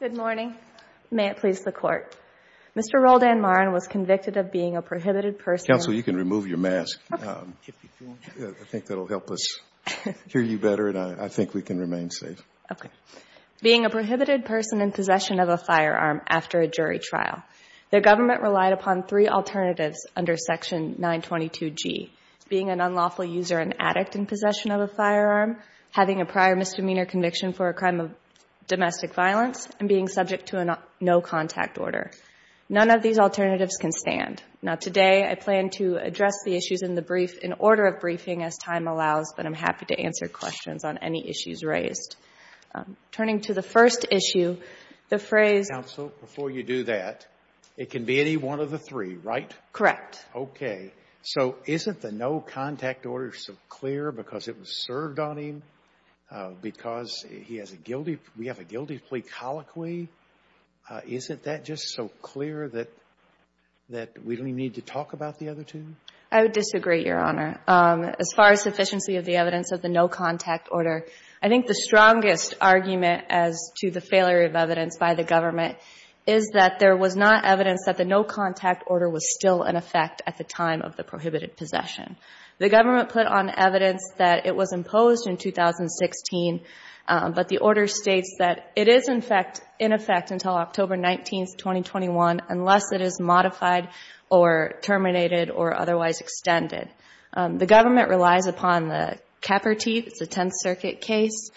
Good morning. May it please the Court. Mr. Roldan Marin was convicted of being a prohibited person Counsel, you can remove your mask. I think that will help us hear you better and I think we can remain safe. Okay. Being a prohibited person in possession of a firearm after a jury trial. The government relied upon three alternatives under Section 922G. Being an unlawful user and addict in possession of a firearm. Having a prior misdemeanor conviction for a crime of domestic violence. And being subject to a no contact order. None of these alternatives can stand. Now today, I plan to address the issues in the brief in order of briefing as time allows, but I'm happy to answer questions on any issues raised. Turning to the first issue, the phrase Counsel, before you do that, it can be any one of the three, right? Correct. Okay. So isn't the no contact order so clear because it was served on him? Because he has a guilty, we have a guilty plea colloquy. Isn't that just so clear that we don't even need to talk about the other two? I would disagree, Your Honor. As far as sufficiency of the evidence of the no contact order, I think the strongest argument as to the failure of evidence by the government is that there was not evidence that the no contact order was still in effect at the time of the prohibited possession. The government put on evidence that it was imposed in 2016, but the order states that it is in effect until October 19, 2021, unless it is modified or terminated or otherwise extended. The government relies upon the Kepperti, the 10th Circuit case.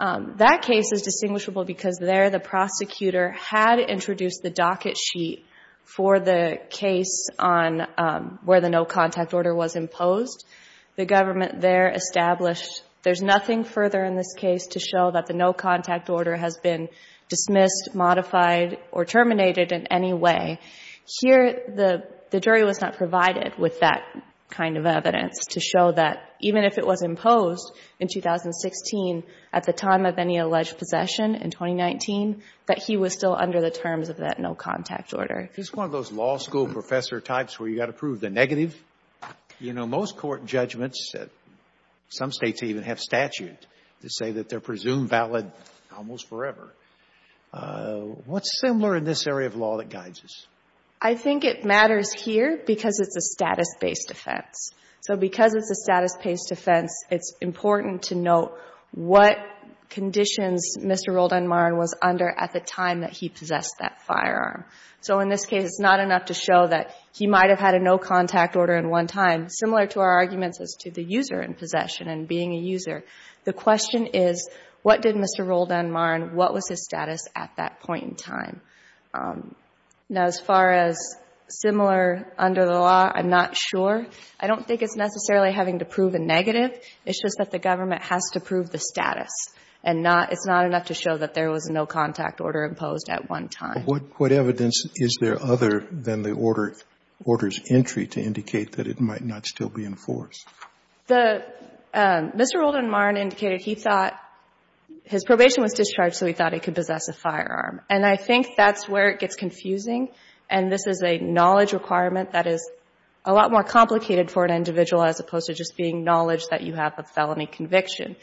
That case is distinguishable because there the prosecutor had introduced the docket sheet for the case on where the no contact order was imposed. The government there established there's nothing further in this case to show that the no contact order has been dismissed, modified, or terminated in any way. Here, the jury was not provided with that kind of evidence to show that even if it was imposed in 2016 at the time of any alleged possession in 2019, that he was still under the terms of that no contact order. It's one of those law school professor types where you got to prove the negative. You know, most court judgments, some states even have statute to say that they're presumed valid almost forever. What's similar in this area of law that guides us? I think it matters here because it's a status-based offense. So because it's a status-based offense, it's important to note what conditions Mr. Roldan-Marin was under at the time that he possessed that firearm. So in this case, it's not enough to show that he might have had a no contact order in one time. Similar to our arguments as to the user in possession and being a user, the question is what did Mr. Roldan-Marin, what was his status at that point in time? Now, as far as similar under the law, I'm not sure. I don't think it's necessarily having to prove a negative. It's just that the government has to prove the status and it's not enough to show that there was no contact order imposed at one time. What evidence is there other than the order's entry to indicate that it might not still be in force? Mr. Roldan-Marin indicated he thought his probation was discharged so he thought he could possess a firearm. And I think that's where it gets confusing. And this is a knowledge requirement that is a lot more complicated for an individual as opposed to just being knowledge that you have a felony conviction.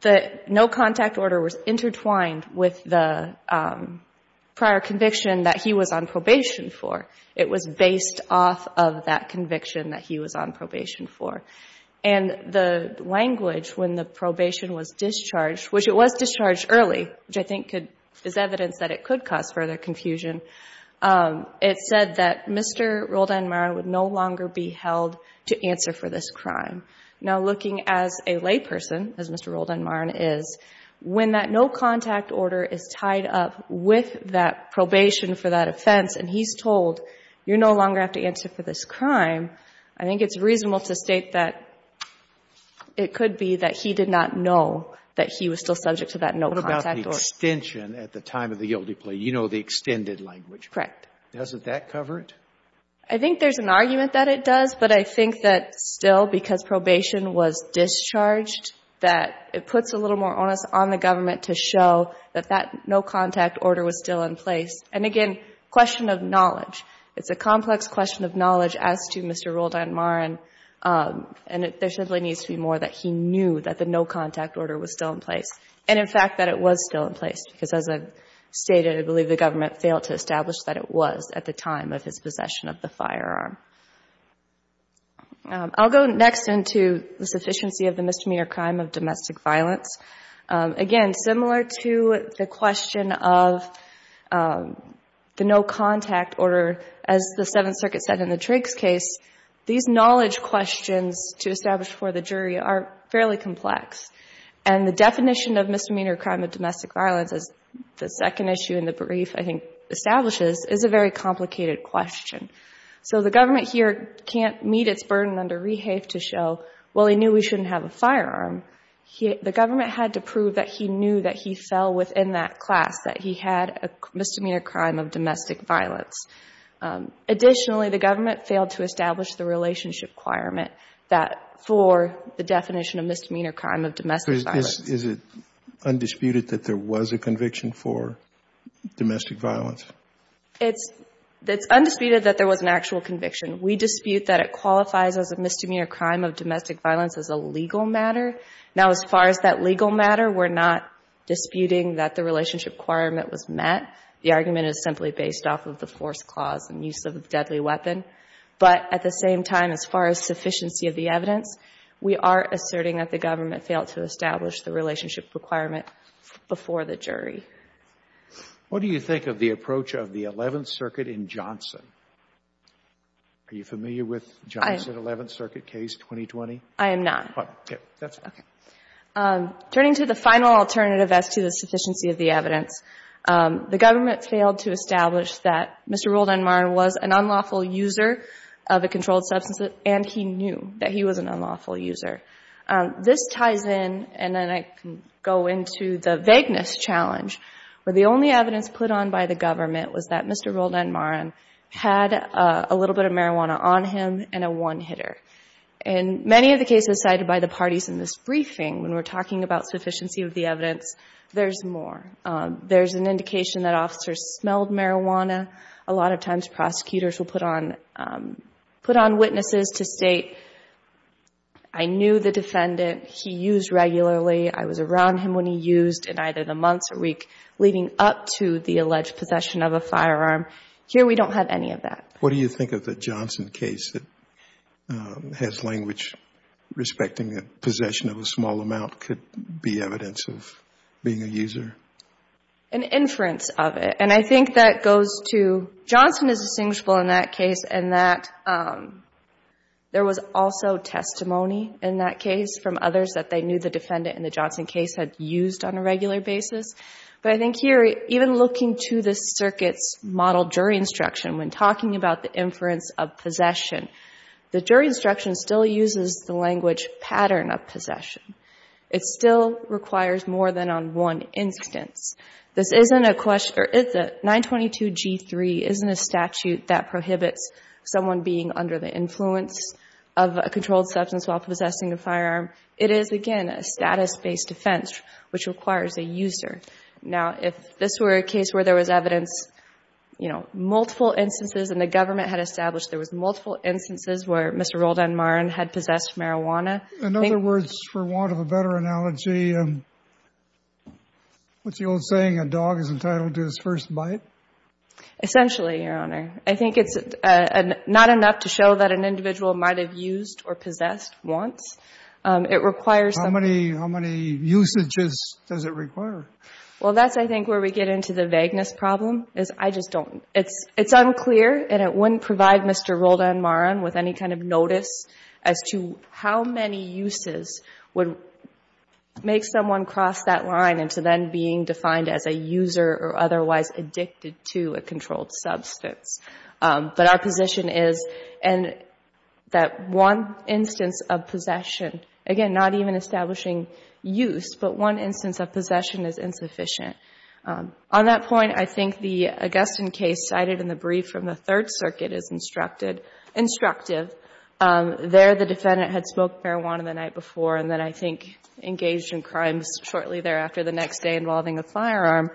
The no contact order was intertwined with the prior conviction that he was on probation for. It was based off of that conviction that he was on probation for. And the language when the probation was discharged, which it was discharged early, which I think is evidence that it could cause further confusion, it said that Mr. Roldan-Marin would no longer be held to answer for this crime. Now looking as a layperson, as Mr. Roldan-Marin is, when that no contact order is tied up with that probation for that offense and he's told you no longer have to answer for this crime, I think it's reasonable to state that it could be that he did not know that he was still subject to that no contact order. What about the extension at the time of the guilty plea? You know the extended language. Correct. Doesn't that cover it? I think there's an argument that it does. But I think that still because probation was discharged, that it puts a little more onus on the government to show that that no contact order was still in place. And again, question of knowledge. It's a complex question of knowledge as to Mr. Roldan-Marin. And there simply needs to be more that he knew that the no contact order was still in place. And in fact that it was still in place. Because as I've stated, I believe the government failed to establish that it was at the time of his possession of the firearm. I'll go next into the sufficiency of the misdemeanor crime of domestic violence. Again, similar to the question of the no contact order, as the Seventh Circuit said in the Drake's case, these knowledge questions to establish for the jury are fairly complex. And the definition of misdemeanor crime of domestic violence, as the second issue in the brief I think establishes, is a very complicated question. So the government here can't meet its burden under Rehave to show, well, he knew he shouldn't have a firearm. The government had to prove that he knew that he fell within that class, that he had a misdemeanor crime of domestic violence. Additionally, the government failed to establish the relationship requirement that for the definition of misdemeanor crime of domestic violence. So is it undisputed that there was a conviction for domestic violence? It's undisputed that there was an actual conviction. We dispute that it qualifies as a misdemeanor crime of domestic violence as a legal matter. Now, as far as that legal matter, we're not disputing that the relationship requirement was met. The argument is simply based off of the force clause and use of a deadly weapon. But at the same time, as far as sufficiency of the evidence, we are asserting that the government failed to establish the relationship requirement before the jury. Sotomayor, what do you think of the approach of the Eleventh Circuit in Johnson? Are you familiar with Johnson's Eleventh Circuit case, 2020? I am not. Okay. That's okay. Turning to the final alternative as to the sufficiency of the evidence, the government failed to establish that Mr. Roldanmarin was an unlawful user of a controlled substance, and he knew that he was an unlawful user. This ties in, and then I can go into the vagueness challenge, where the only evidence put on by the government was that Mr. Roldanmarin had a little bit of marijuana on him and a one-hitter. In many of the cases cited by the parties in this briefing, when we're talking about sufficiency of the evidence, there's more. There's an indication that officers smelled marijuana. A lot of times, prosecutors will put on witnesses to state, I knew the defendant. He used regularly. I was around him when he used in either the months or week, leading up to the alleged possession of a firearm. Here, we don't have any of that. What do you think of the Johnson case that has language respecting that possession of a small amount could be evidence of being a user? An inference of it. And I think that goes to, Johnson is distinguishable in that case, and that there was also testimony in that case from others that they knew the defendant in the Johnson case had used on a regular basis. But I think here, even looking to the circuit's model jury instruction, when talking about the inference of possession, the jury instruction still uses the language pattern of possession. It still requires more than on one instance. This isn't a question or is it? 922G3 isn't a statute that prohibits someone being under the influence of a controlled substance while possessing a firearm. It is, again, a status-based offense, which requires a user. Now, if this were a case where there was evidence, you know, multiple instances and the government had established there was multiple instances where Mr. Roldanmarin had possessed marijuana. In other words, for want of a better analogy, what's the old saying, a dog is entitled to his first bite? Essentially, Your Honor. I think it's not enough to show that an individual might have used or possessed once. It requires some... How many usages does it require? Well, that's, I think, where we get into the vagueness problem, is I just don't... It's unclear and it wouldn't provide Mr. Roldanmarin with any kind of notice as to how many uses would make someone cross that line into then being defined as a user or otherwise addicted to a controlled substance. But our position is, and that one instance of possession, again, not even establishing use, but one instance of possession is insufficient. On that point, I think the Augustine case cited in the brief from the Third Circuit is instructive. There, the defendant had smoked marijuana the night before and then, I think, engaged in crimes shortly thereafter the next day involving a firearm.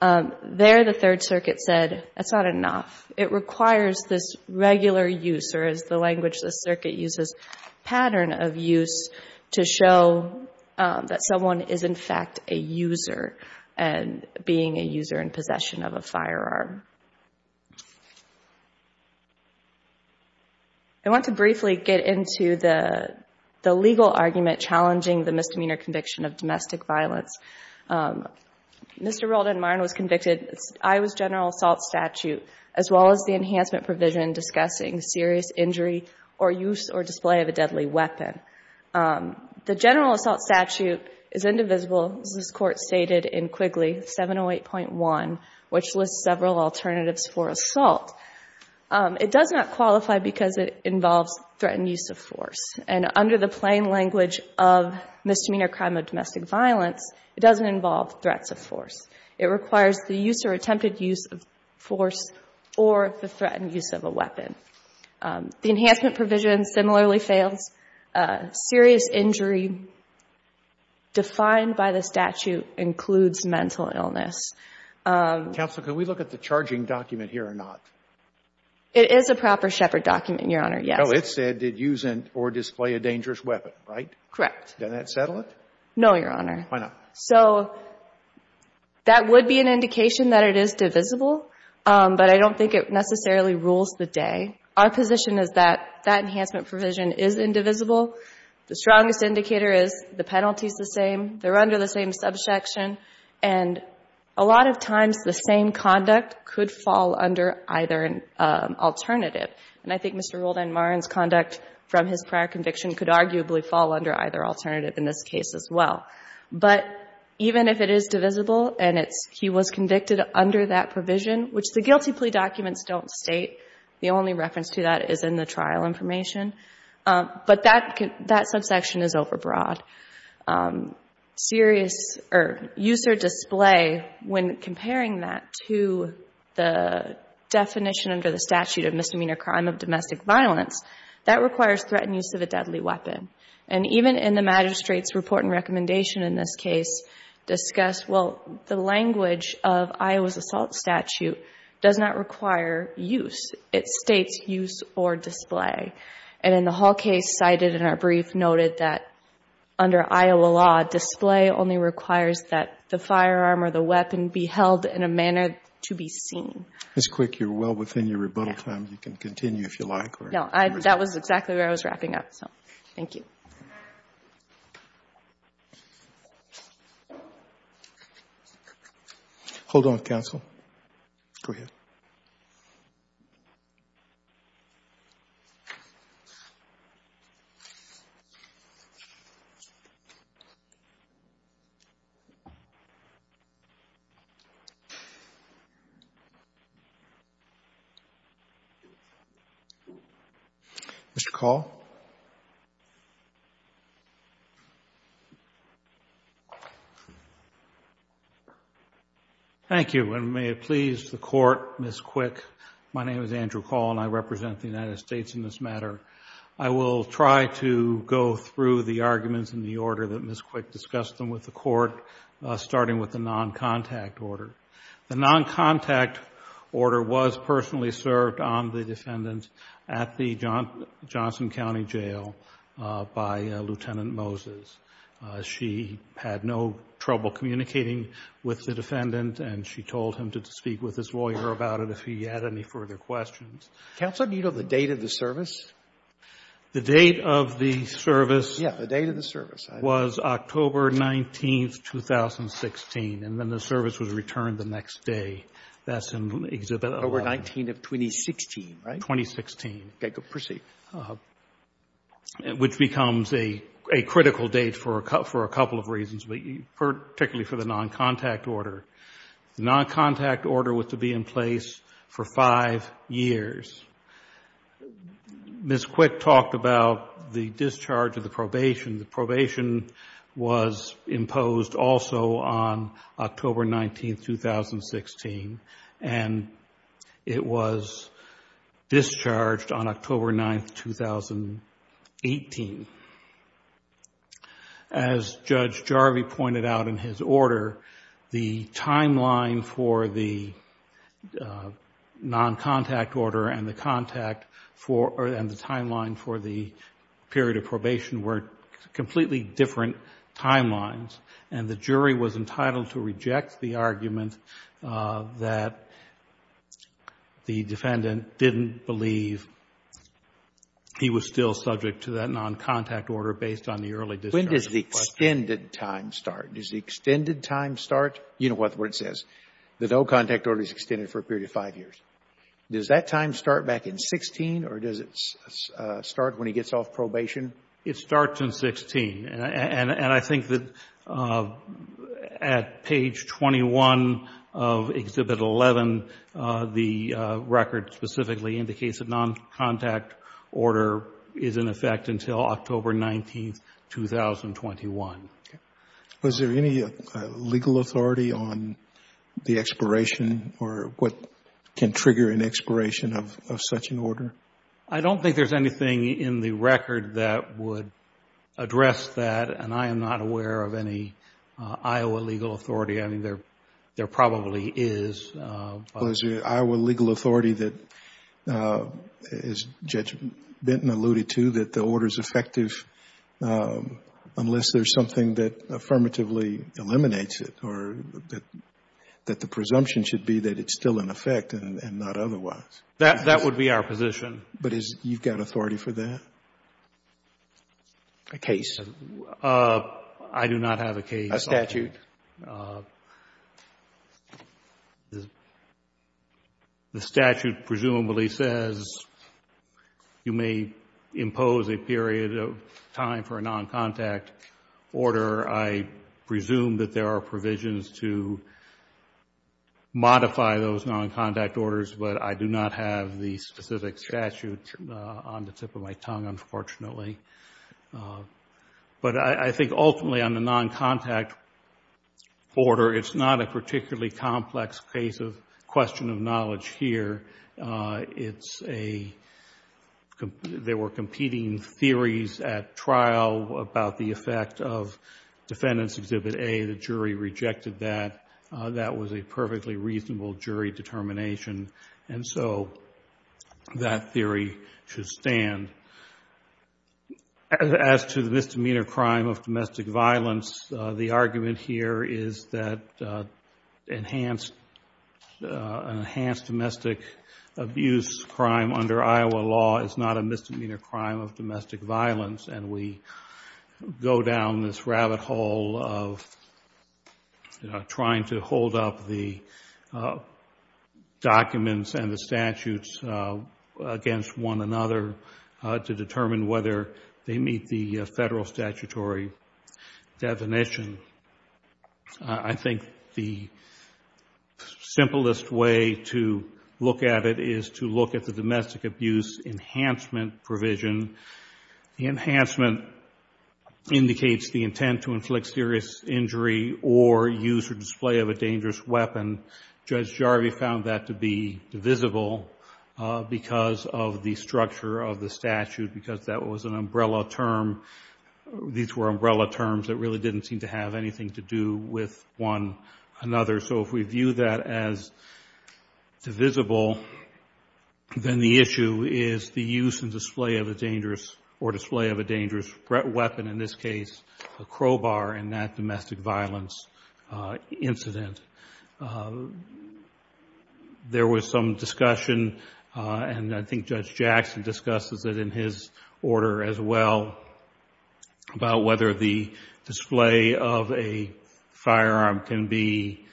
There, the Third Circuit said, that's not enough. It requires this regular use, or as the language of the circuit uses, pattern of use to show that someone is in fact a user. And being a user in possession of a firearm. I want to briefly get into the legal argument challenging the misdemeanor conviction of domestic violence. Mr. Roldanmarin was convicted. I was general assault statute, as well as the enhancement provision discussing serious injury or use or display of a deadly weapon. The general assault statute is indivisible. As this Court stated in Quigley 708.1, which lists several alternatives for assault. It does not qualify because it involves threatened use of force. And under the plain language of misdemeanor crime of domestic violence, it doesn't involve threats of force. It requires the use or attempted use of force or the threatened use of a weapon. The enhancement provision similarly fails. Serious injury defined by the statute includes mental illness. Counsel, can we look at the charging document here or not? It is a proper Shepard document, Your Honor, yes. No, it said did use or display a dangerous weapon, right? Correct. Doesn't that settle it? No, Your Honor. Why not? So that would be an indication that it is divisible. But I don't think it necessarily rules the day. Our position is that that enhancement provision is indivisible. The strongest indicator is the penalty is the same. They're under the same subsection. And a lot of times the same conduct could fall under either an alternative. And I think Mr. Roldan-Marin's conduct from his prior conviction could arguably fall under either alternative in this case as well. But even if it is divisible and he was convicted under that provision, which the reference to that is in the trial information, but that subsection is overbroad. Use or display, when comparing that to the definition under the statute of misdemeanor crime of domestic violence, that requires threatened use of a deadly weapon. And even in the magistrate's report and recommendation in this case discussed, well, the language of Iowa's assault statute does not require use. It states use or display. And in the Hall case cited in our brief noted that under Iowa law, display only requires that the firearm or the weapon be held in a manner to be seen. Ms. Quick, you're well within your rebuttal time. You can continue if you like. No, that was exactly where I was wrapping up. So thank you. Hold on, counsel. Go ahead. Mr. Kahl? Thank you, and may it please the Court, Ms. Quick. My name is Andrew Kahl, and I represent the United States in this matter. I will try to go through the arguments in the order that Ms. Quick discussed them with the Court, starting with the noncontact order. The noncontact order was personally served on the defendant at the Johnson County Jail by Lieutenant Moses. She had no trouble communicating with the defendant, and she told him to speak with his lawyer about it if he had any further questions. Counsel, do you know the date of the service? The date of the service was October 19th, 2016. And then the service was returned the next day. That's in Exhibit 11. October 19th of 2016, right? Okay. Go ahead. Proceed. Which becomes a critical date for a couple of reasons, particularly for the noncontact order. The noncontact order was to be in place for five years. Ms. Quick talked about the discharge of the probation. The probation was imposed also on October 19th, 2016, and it was discharged on October 9th, 2018. As Judge Jarvi pointed out in his order, the timeline for the noncontact order and the timeline for the period of probation were completely different timelines, and the jury was entitled to reject the argument that the defendant didn't believe he was still subject to that noncontact order based on the early discharge. When does the extended time start? Does the extended time start? You know what the word says. The no-contact order is extended for a period of five years. Does that time start back in 16, or does it start when he gets off probation? It starts in 16, and I think that at page 21 of Exhibit 11, the record specifically indicates a noncontact order is in effect until October 19th, 2021. Was there any legal authority on the expiration or what can trigger an expiration of such an order? I don't think there's anything in the record that would address that, and I am not aware of any Iowa legal authority. I mean, there probably is. Was there an Iowa legal authority that, as Judge Benton alluded to, that the presumption should be that it's still in effect and not otherwise? That would be our position. But you've got authority for that? A case. I do not have a case. A statute. The statute presumably says you may impose a period of time for a noncontact order. I presume that there are provisions to modify those noncontact orders, but I do not have the specific statute on the tip of my tongue, unfortunately. But I think ultimately on the noncontact order, it's not a particularly complex case of question of knowledge here. There were competing theories at trial about the effect of defendant's Exhibit A. The jury rejected that. That was a perfectly reasonable jury determination, and so that theory should stand. As to the misdemeanor crime of domestic violence, the argument here is that an enhanced domestic abuse crime under Iowa law is not a misdemeanor crime of domestic violence, and we go down this rabbit hole of trying to hold up the documents and the statutes against one another to determine whether they meet the federal statutory definition. I think the simplest way to look at it is to look at the domestic abuse enhancement provision. The enhancement indicates the intent to inflict serious injury or use or display of a dangerous weapon. Judge Jarvie found that to be divisible because of the structure of the statute because that was an umbrella term. These were umbrella terms that really didn't seem to have anything to do with one another. So if we view that as divisible, then the issue is the use and display of a dangerous or display of a dangerous weapon, in this case, a crowbar in that domestic violence incident. There was some discussion, and I think Judge Jackson discusses it in his order as well, about whether the display of a firearm can be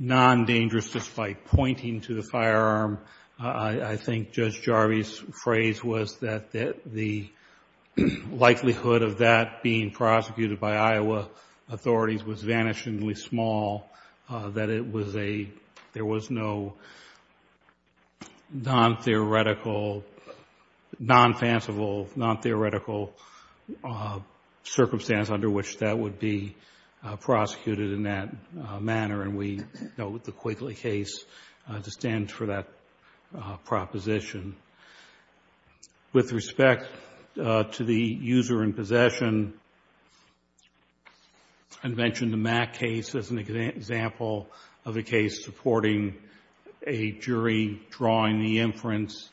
non-dangerous despite pointing to the firearm. I think Judge Jarvie's phrase was that the likelihood of that being prosecuted by Iowa authorities was vanishingly small, that it was a, there was no non-theoretical, non-fanciful, non-theoretical circumstance under which that would be prosecuted in that manner. And we dealt with the Quigley case to stand for that proposition. With respect to the user in possession, I mentioned the Mack case as an example of a case supporting a jury drawing the inference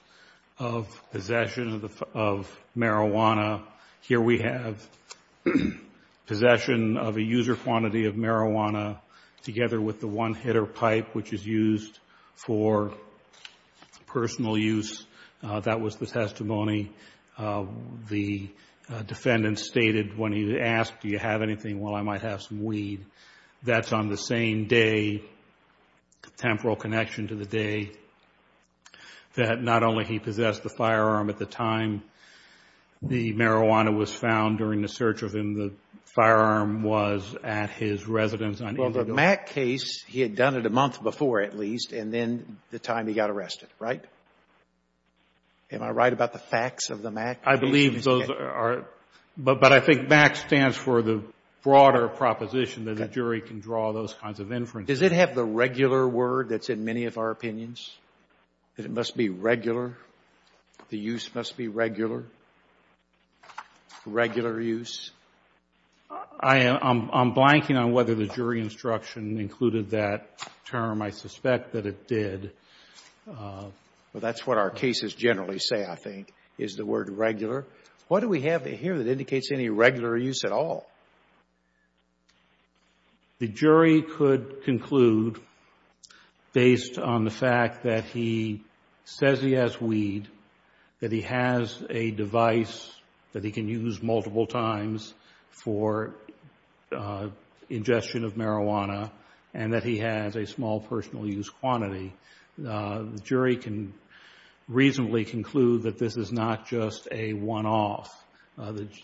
of possession of marijuana. Here we have possession of a user quantity of marijuana together with the one hitter pipe, which is used for personal use. That was the testimony. The defendant stated when he asked, do you have anything? Well, I might have some weed. That's on the same day, temporal connection to the day, that not only he possessed the firearm at the time the marijuana was found during the search of him, the firearm was at his residence. Well, the Mack case, he had done it a month before, at least, and then the time he got arrested, right? Am I right about the facts of the Mack case? I believe those are — but I think Mack stands for the broader proposition that a jury can draw those kinds of inferences. Does it have the regular word that's in many of our opinions, that it must be regular? The use must be regular? Regular use? I'm blanking on whether the jury instruction included that term. I suspect that it did. Well, that's what our cases generally say, I think, is the word regular. What do we have here that indicates any regular use at all? The jury could conclude, based on the fact that he says he has weed, that he has a device that he can use multiple times for ingestion of marijuana, and that he has a small personal use quantity, the jury can reasonably conclude that this is not just a one-off.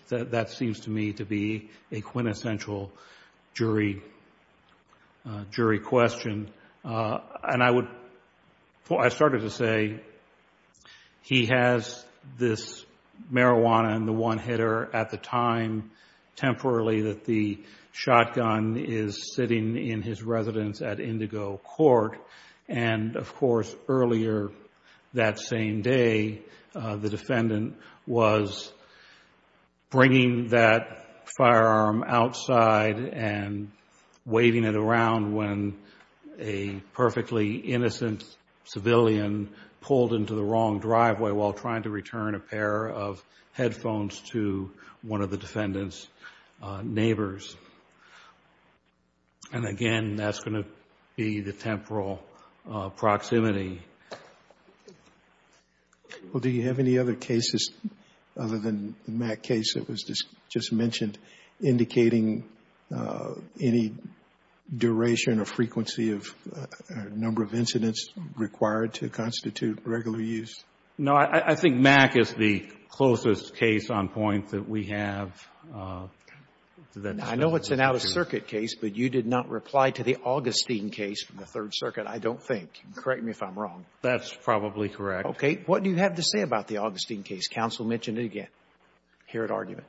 That seems to me to be a quintessential jury question, and I would — I started to say he has this marijuana in the one hitter at the time, temporarily, that the shotgun is of course, earlier that same day, the defendant was bringing that firearm outside and waving it around when a perfectly innocent civilian pulled into the wrong driveway while trying to return a pair of headphones to one of the defendant's neighbors. And again, that's going to be the temporal proximity. Well, do you have any other cases other than the Mack case that was just mentioned indicating any duration or frequency of number of incidents required to constitute regular use? No, I think Mack is the closest case on point that we have. I know it's an out-of-circuit case, but you did not reply to the Augustine case from the Third Circuit, I don't think. Correct me if I'm wrong. That's probably correct. Okay. What do you have to say about the Augustine case? Counsel mentioned it again here at argument.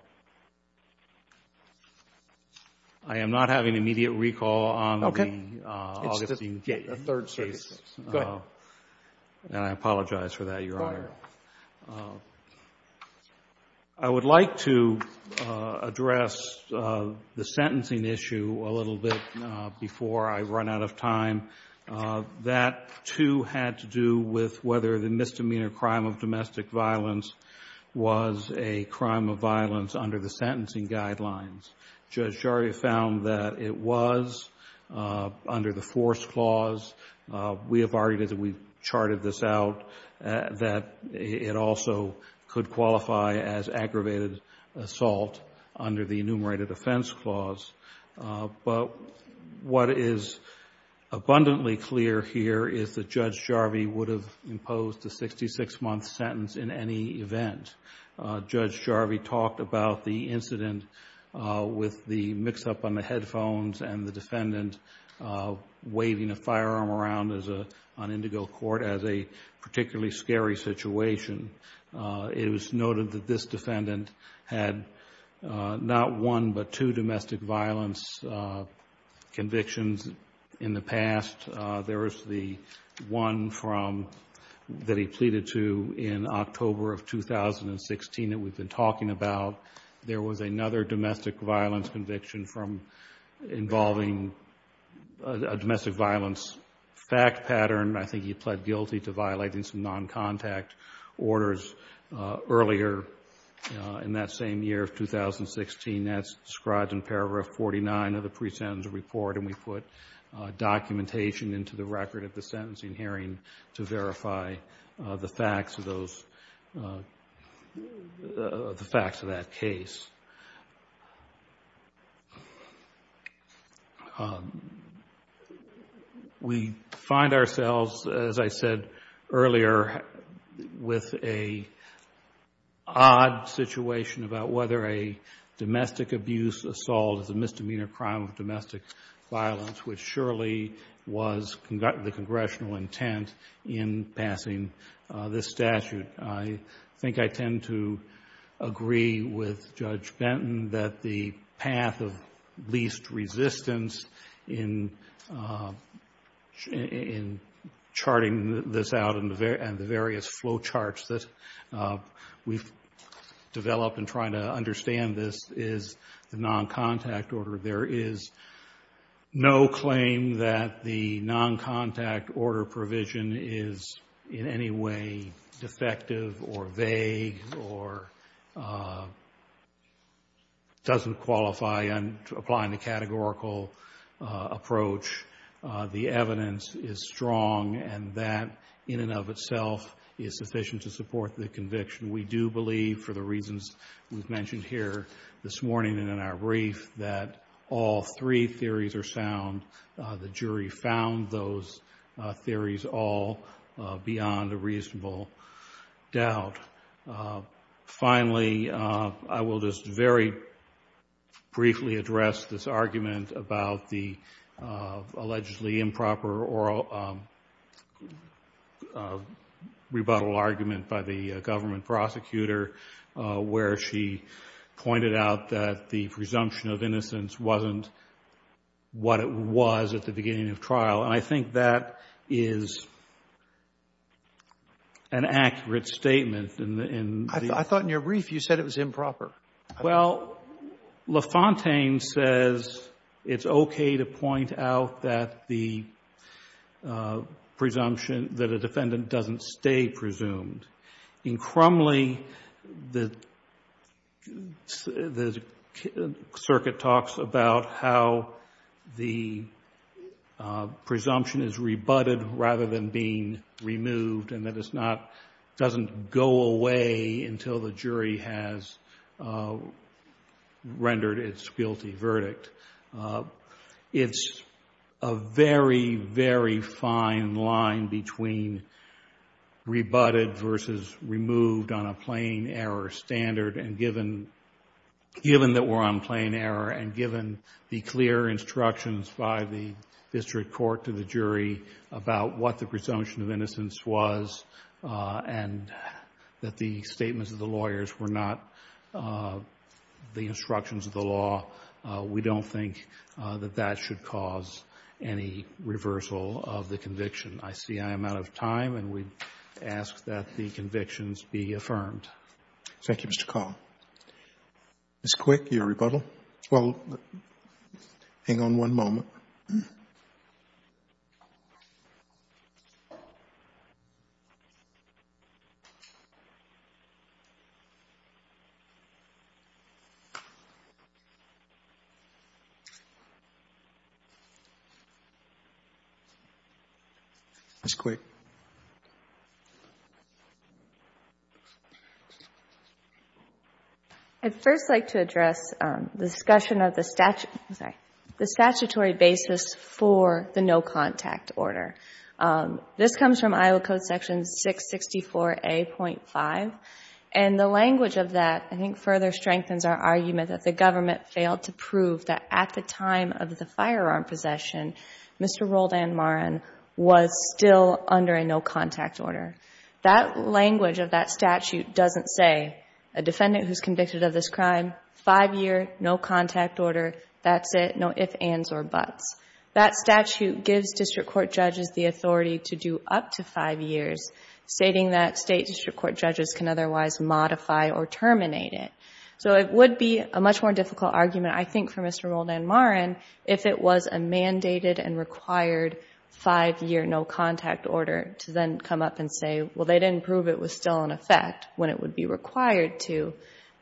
I am not having immediate recall on the Augustine case. Okay. It's the Third Circuit case. Go ahead. And I apologize for that, Your Honor. Go ahead. I would like to address the sentencing issue a little bit before I run out of time. That, too, had to do with whether the misdemeanor crime of domestic violence was a crime of violence under the sentencing guidelines. Judge Jaria found that it was under the force clause. We have argued, as we've charted this out, that it also could qualify as aggravated assault under the enumerated offense clause. But what is abundantly clear here is that Judge Jarvi would have imposed a sixty-six month sentence in any event. Judge Jarvi talked about the incident with the mix-up on the headphones and the defendant waving a firearm around on indigo court as a particularly scary situation. It was noted that this defendant had not one but two domestic violence convictions in the past. There was the one that he pleaded to in October of 2016 that we've been talking about. There was another domestic violence conviction involving a domestic violence fact pattern. I think he pled guilty to violating some non-contact orders earlier in that same year of 2016. That's described in paragraph 49 of the pre-sentence report, and we put documentation into the record of the sentencing hearing to verify the facts of that case. We find ourselves, as I said earlier, with an odd situation about whether a domestic abuse assault is a misdemeanor crime of domestic violence, which surely was the congressional intent in passing this statute. I think I tend to agree with Judge Benton that the path of least resistance in charting this out and the various flowcharts that we've developed in trying to understand this is the non-contact order. There is no claim that the non-contact order provision is in any way defective or vague or doesn't qualify applying the categorical approach. The evidence is strong, and that in and of itself is sufficient to support the conviction. We do believe, for the reasons we've mentioned here this morning and in our brief, that all three theories are sound. The jury found those theories all beyond a reasonable doubt. Finally, I will just very briefly address this argument about the allegedly improper oral rebuttal argument by the government prosecutor, where she pointed out that the presumption of innocence wasn't what it was at the beginning of trial, and I think that is an accurate statement in the ---- I thought in your brief you said it was improper. Well, LaFontaine says it's okay to point out that the presumption, that a defendant doesn't stay presumed. In Crumley, the circuit talks about how the presumption is rebutted rather than being rendered its guilty verdict. It's a very, very fine line between rebutted versus removed on a plain error standard and given that we're on plain error and given the clear instructions by the district court to the jury about what the presumption of innocence was and that the statements of the instructions of the law, we don't think that that should cause any reversal of the conviction. I see I am out of time, and we ask that the convictions be affirmed. Thank you, Mr. Kahl. Ms. Quick, your rebuttal? Well, hang on one moment. Ms. Quick. I would first like to address the discussion of the statutory basis for the no-contact order. This comes from Iowa Code section 664A.5, and the language of that I think further strengthens our argument that the government failed to prove that at the time of the firearm possession, Mr. Roldan Maran was still under a no-contact order. That language of that statute doesn't say, a defendant who's convicted of this crime, five year, no contact order, that's it, no ifs, ands, or buts. That statute gives district court judges the authority to do up to five years, stating that state district court judges can otherwise modify or terminate it. So it would be a much more difficult argument, I think, for Mr. Roldan Maran if it was a mandated and required five-year no-contact order to then come up and say, well, they didn't prove it was still in effect when it would be required to.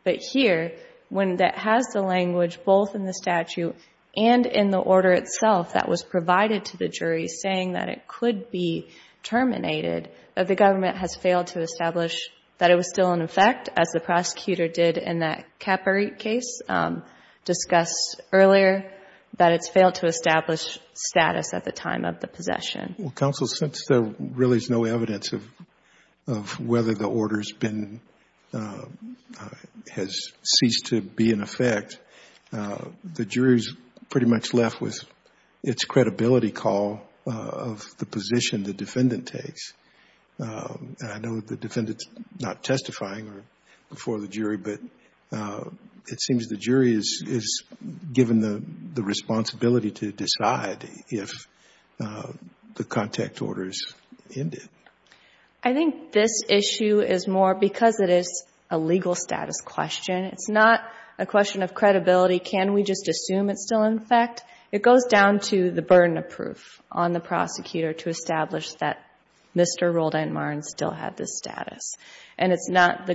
But here, when that has the language both in the statute and in the order itself that was provided to the jury, saying that it could be terminated, the government has failed to establish that it was still in effect, as the prosecutor did in that Caparete case discussed earlier, that it's failed to establish status at the time of the possession. Well, counsel, since there really is no evidence of whether the order has ceased to be in effect, the jury is pretty much left with its credibility call of the position the defendant takes. And I know the defendant is not testifying before the jury, but it seems the jury is given the responsibility to decide if the contact order is ended. I think this issue is more because it is a legal status question. It's not a question of credibility. Can we just assume it's still in effect? It goes down to the burden of proof on the prosecutor to establish that Mr. Roldan Maran still had this status. And it's not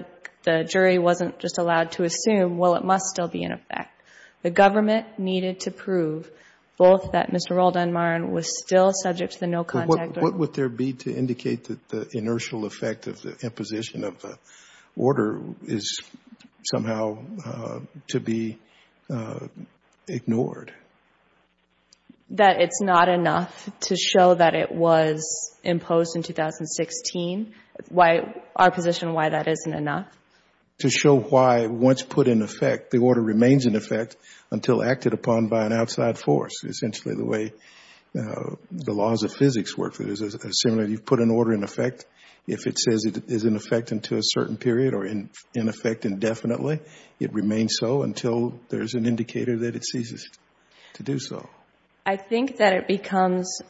the jury wasn't just allowed to assume, well, it must still be in effect. The government needed to prove both that Mr. Roldan Maran was still subject to the no-contact order. What would there be to indicate that the inertial effect of the imposition of the order is somehow to be ignored? That it's not enough to show that it was imposed in 2016? Why our position why that isn't enough? To show why once put in effect, the order remains in effect until acted upon by an outside force. Essentially the way the laws of physics work, you put an order in effect, if it says it is in effect until a certain period or in effect indefinitely, it remains so until there's an indicator that it ceases to do so. I think that it becomes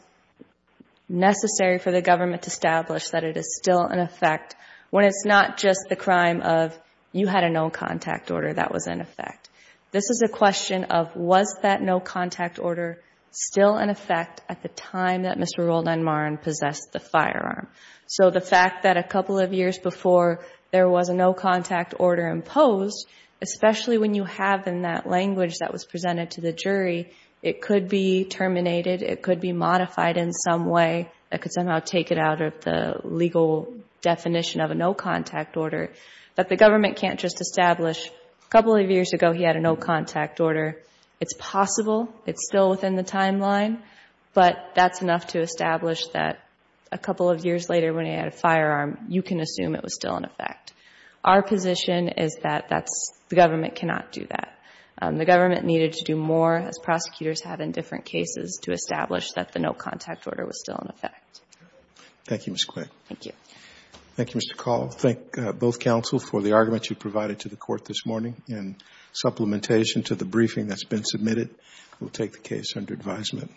necessary for the government to establish that it is still in effect when it's not just the crime of you had a no-contact order that was in effect. This is a question of was that no-contact order still in effect at the time that Mr. Roldan Maran possessed the firearm? So the fact that a couple of years before there was a no-contact order imposed, especially when you have in that language that was presented to the jury, it could be terminated, it could be modified in some way that could somehow take it out of the legal definition of a no-contact order. But the government can't just establish a couple of years ago he had a no-contact order. It's possible. It's still within the timeline, but that's enough to establish that a couple of years later when he had a firearm, you can assume it was still in effect. Our position is that that's, the government cannot do that. The government needed to do more, as prosecutors have in different cases, to establish that the no-contact order was still in effect. Thank you, Ms. Quinn. Thank you. Thank you, Mr. Call. I thank both counsel for the argument you provided to the court this morning. In supplementation to the briefing that's been submitted, we'll take the case under advisement.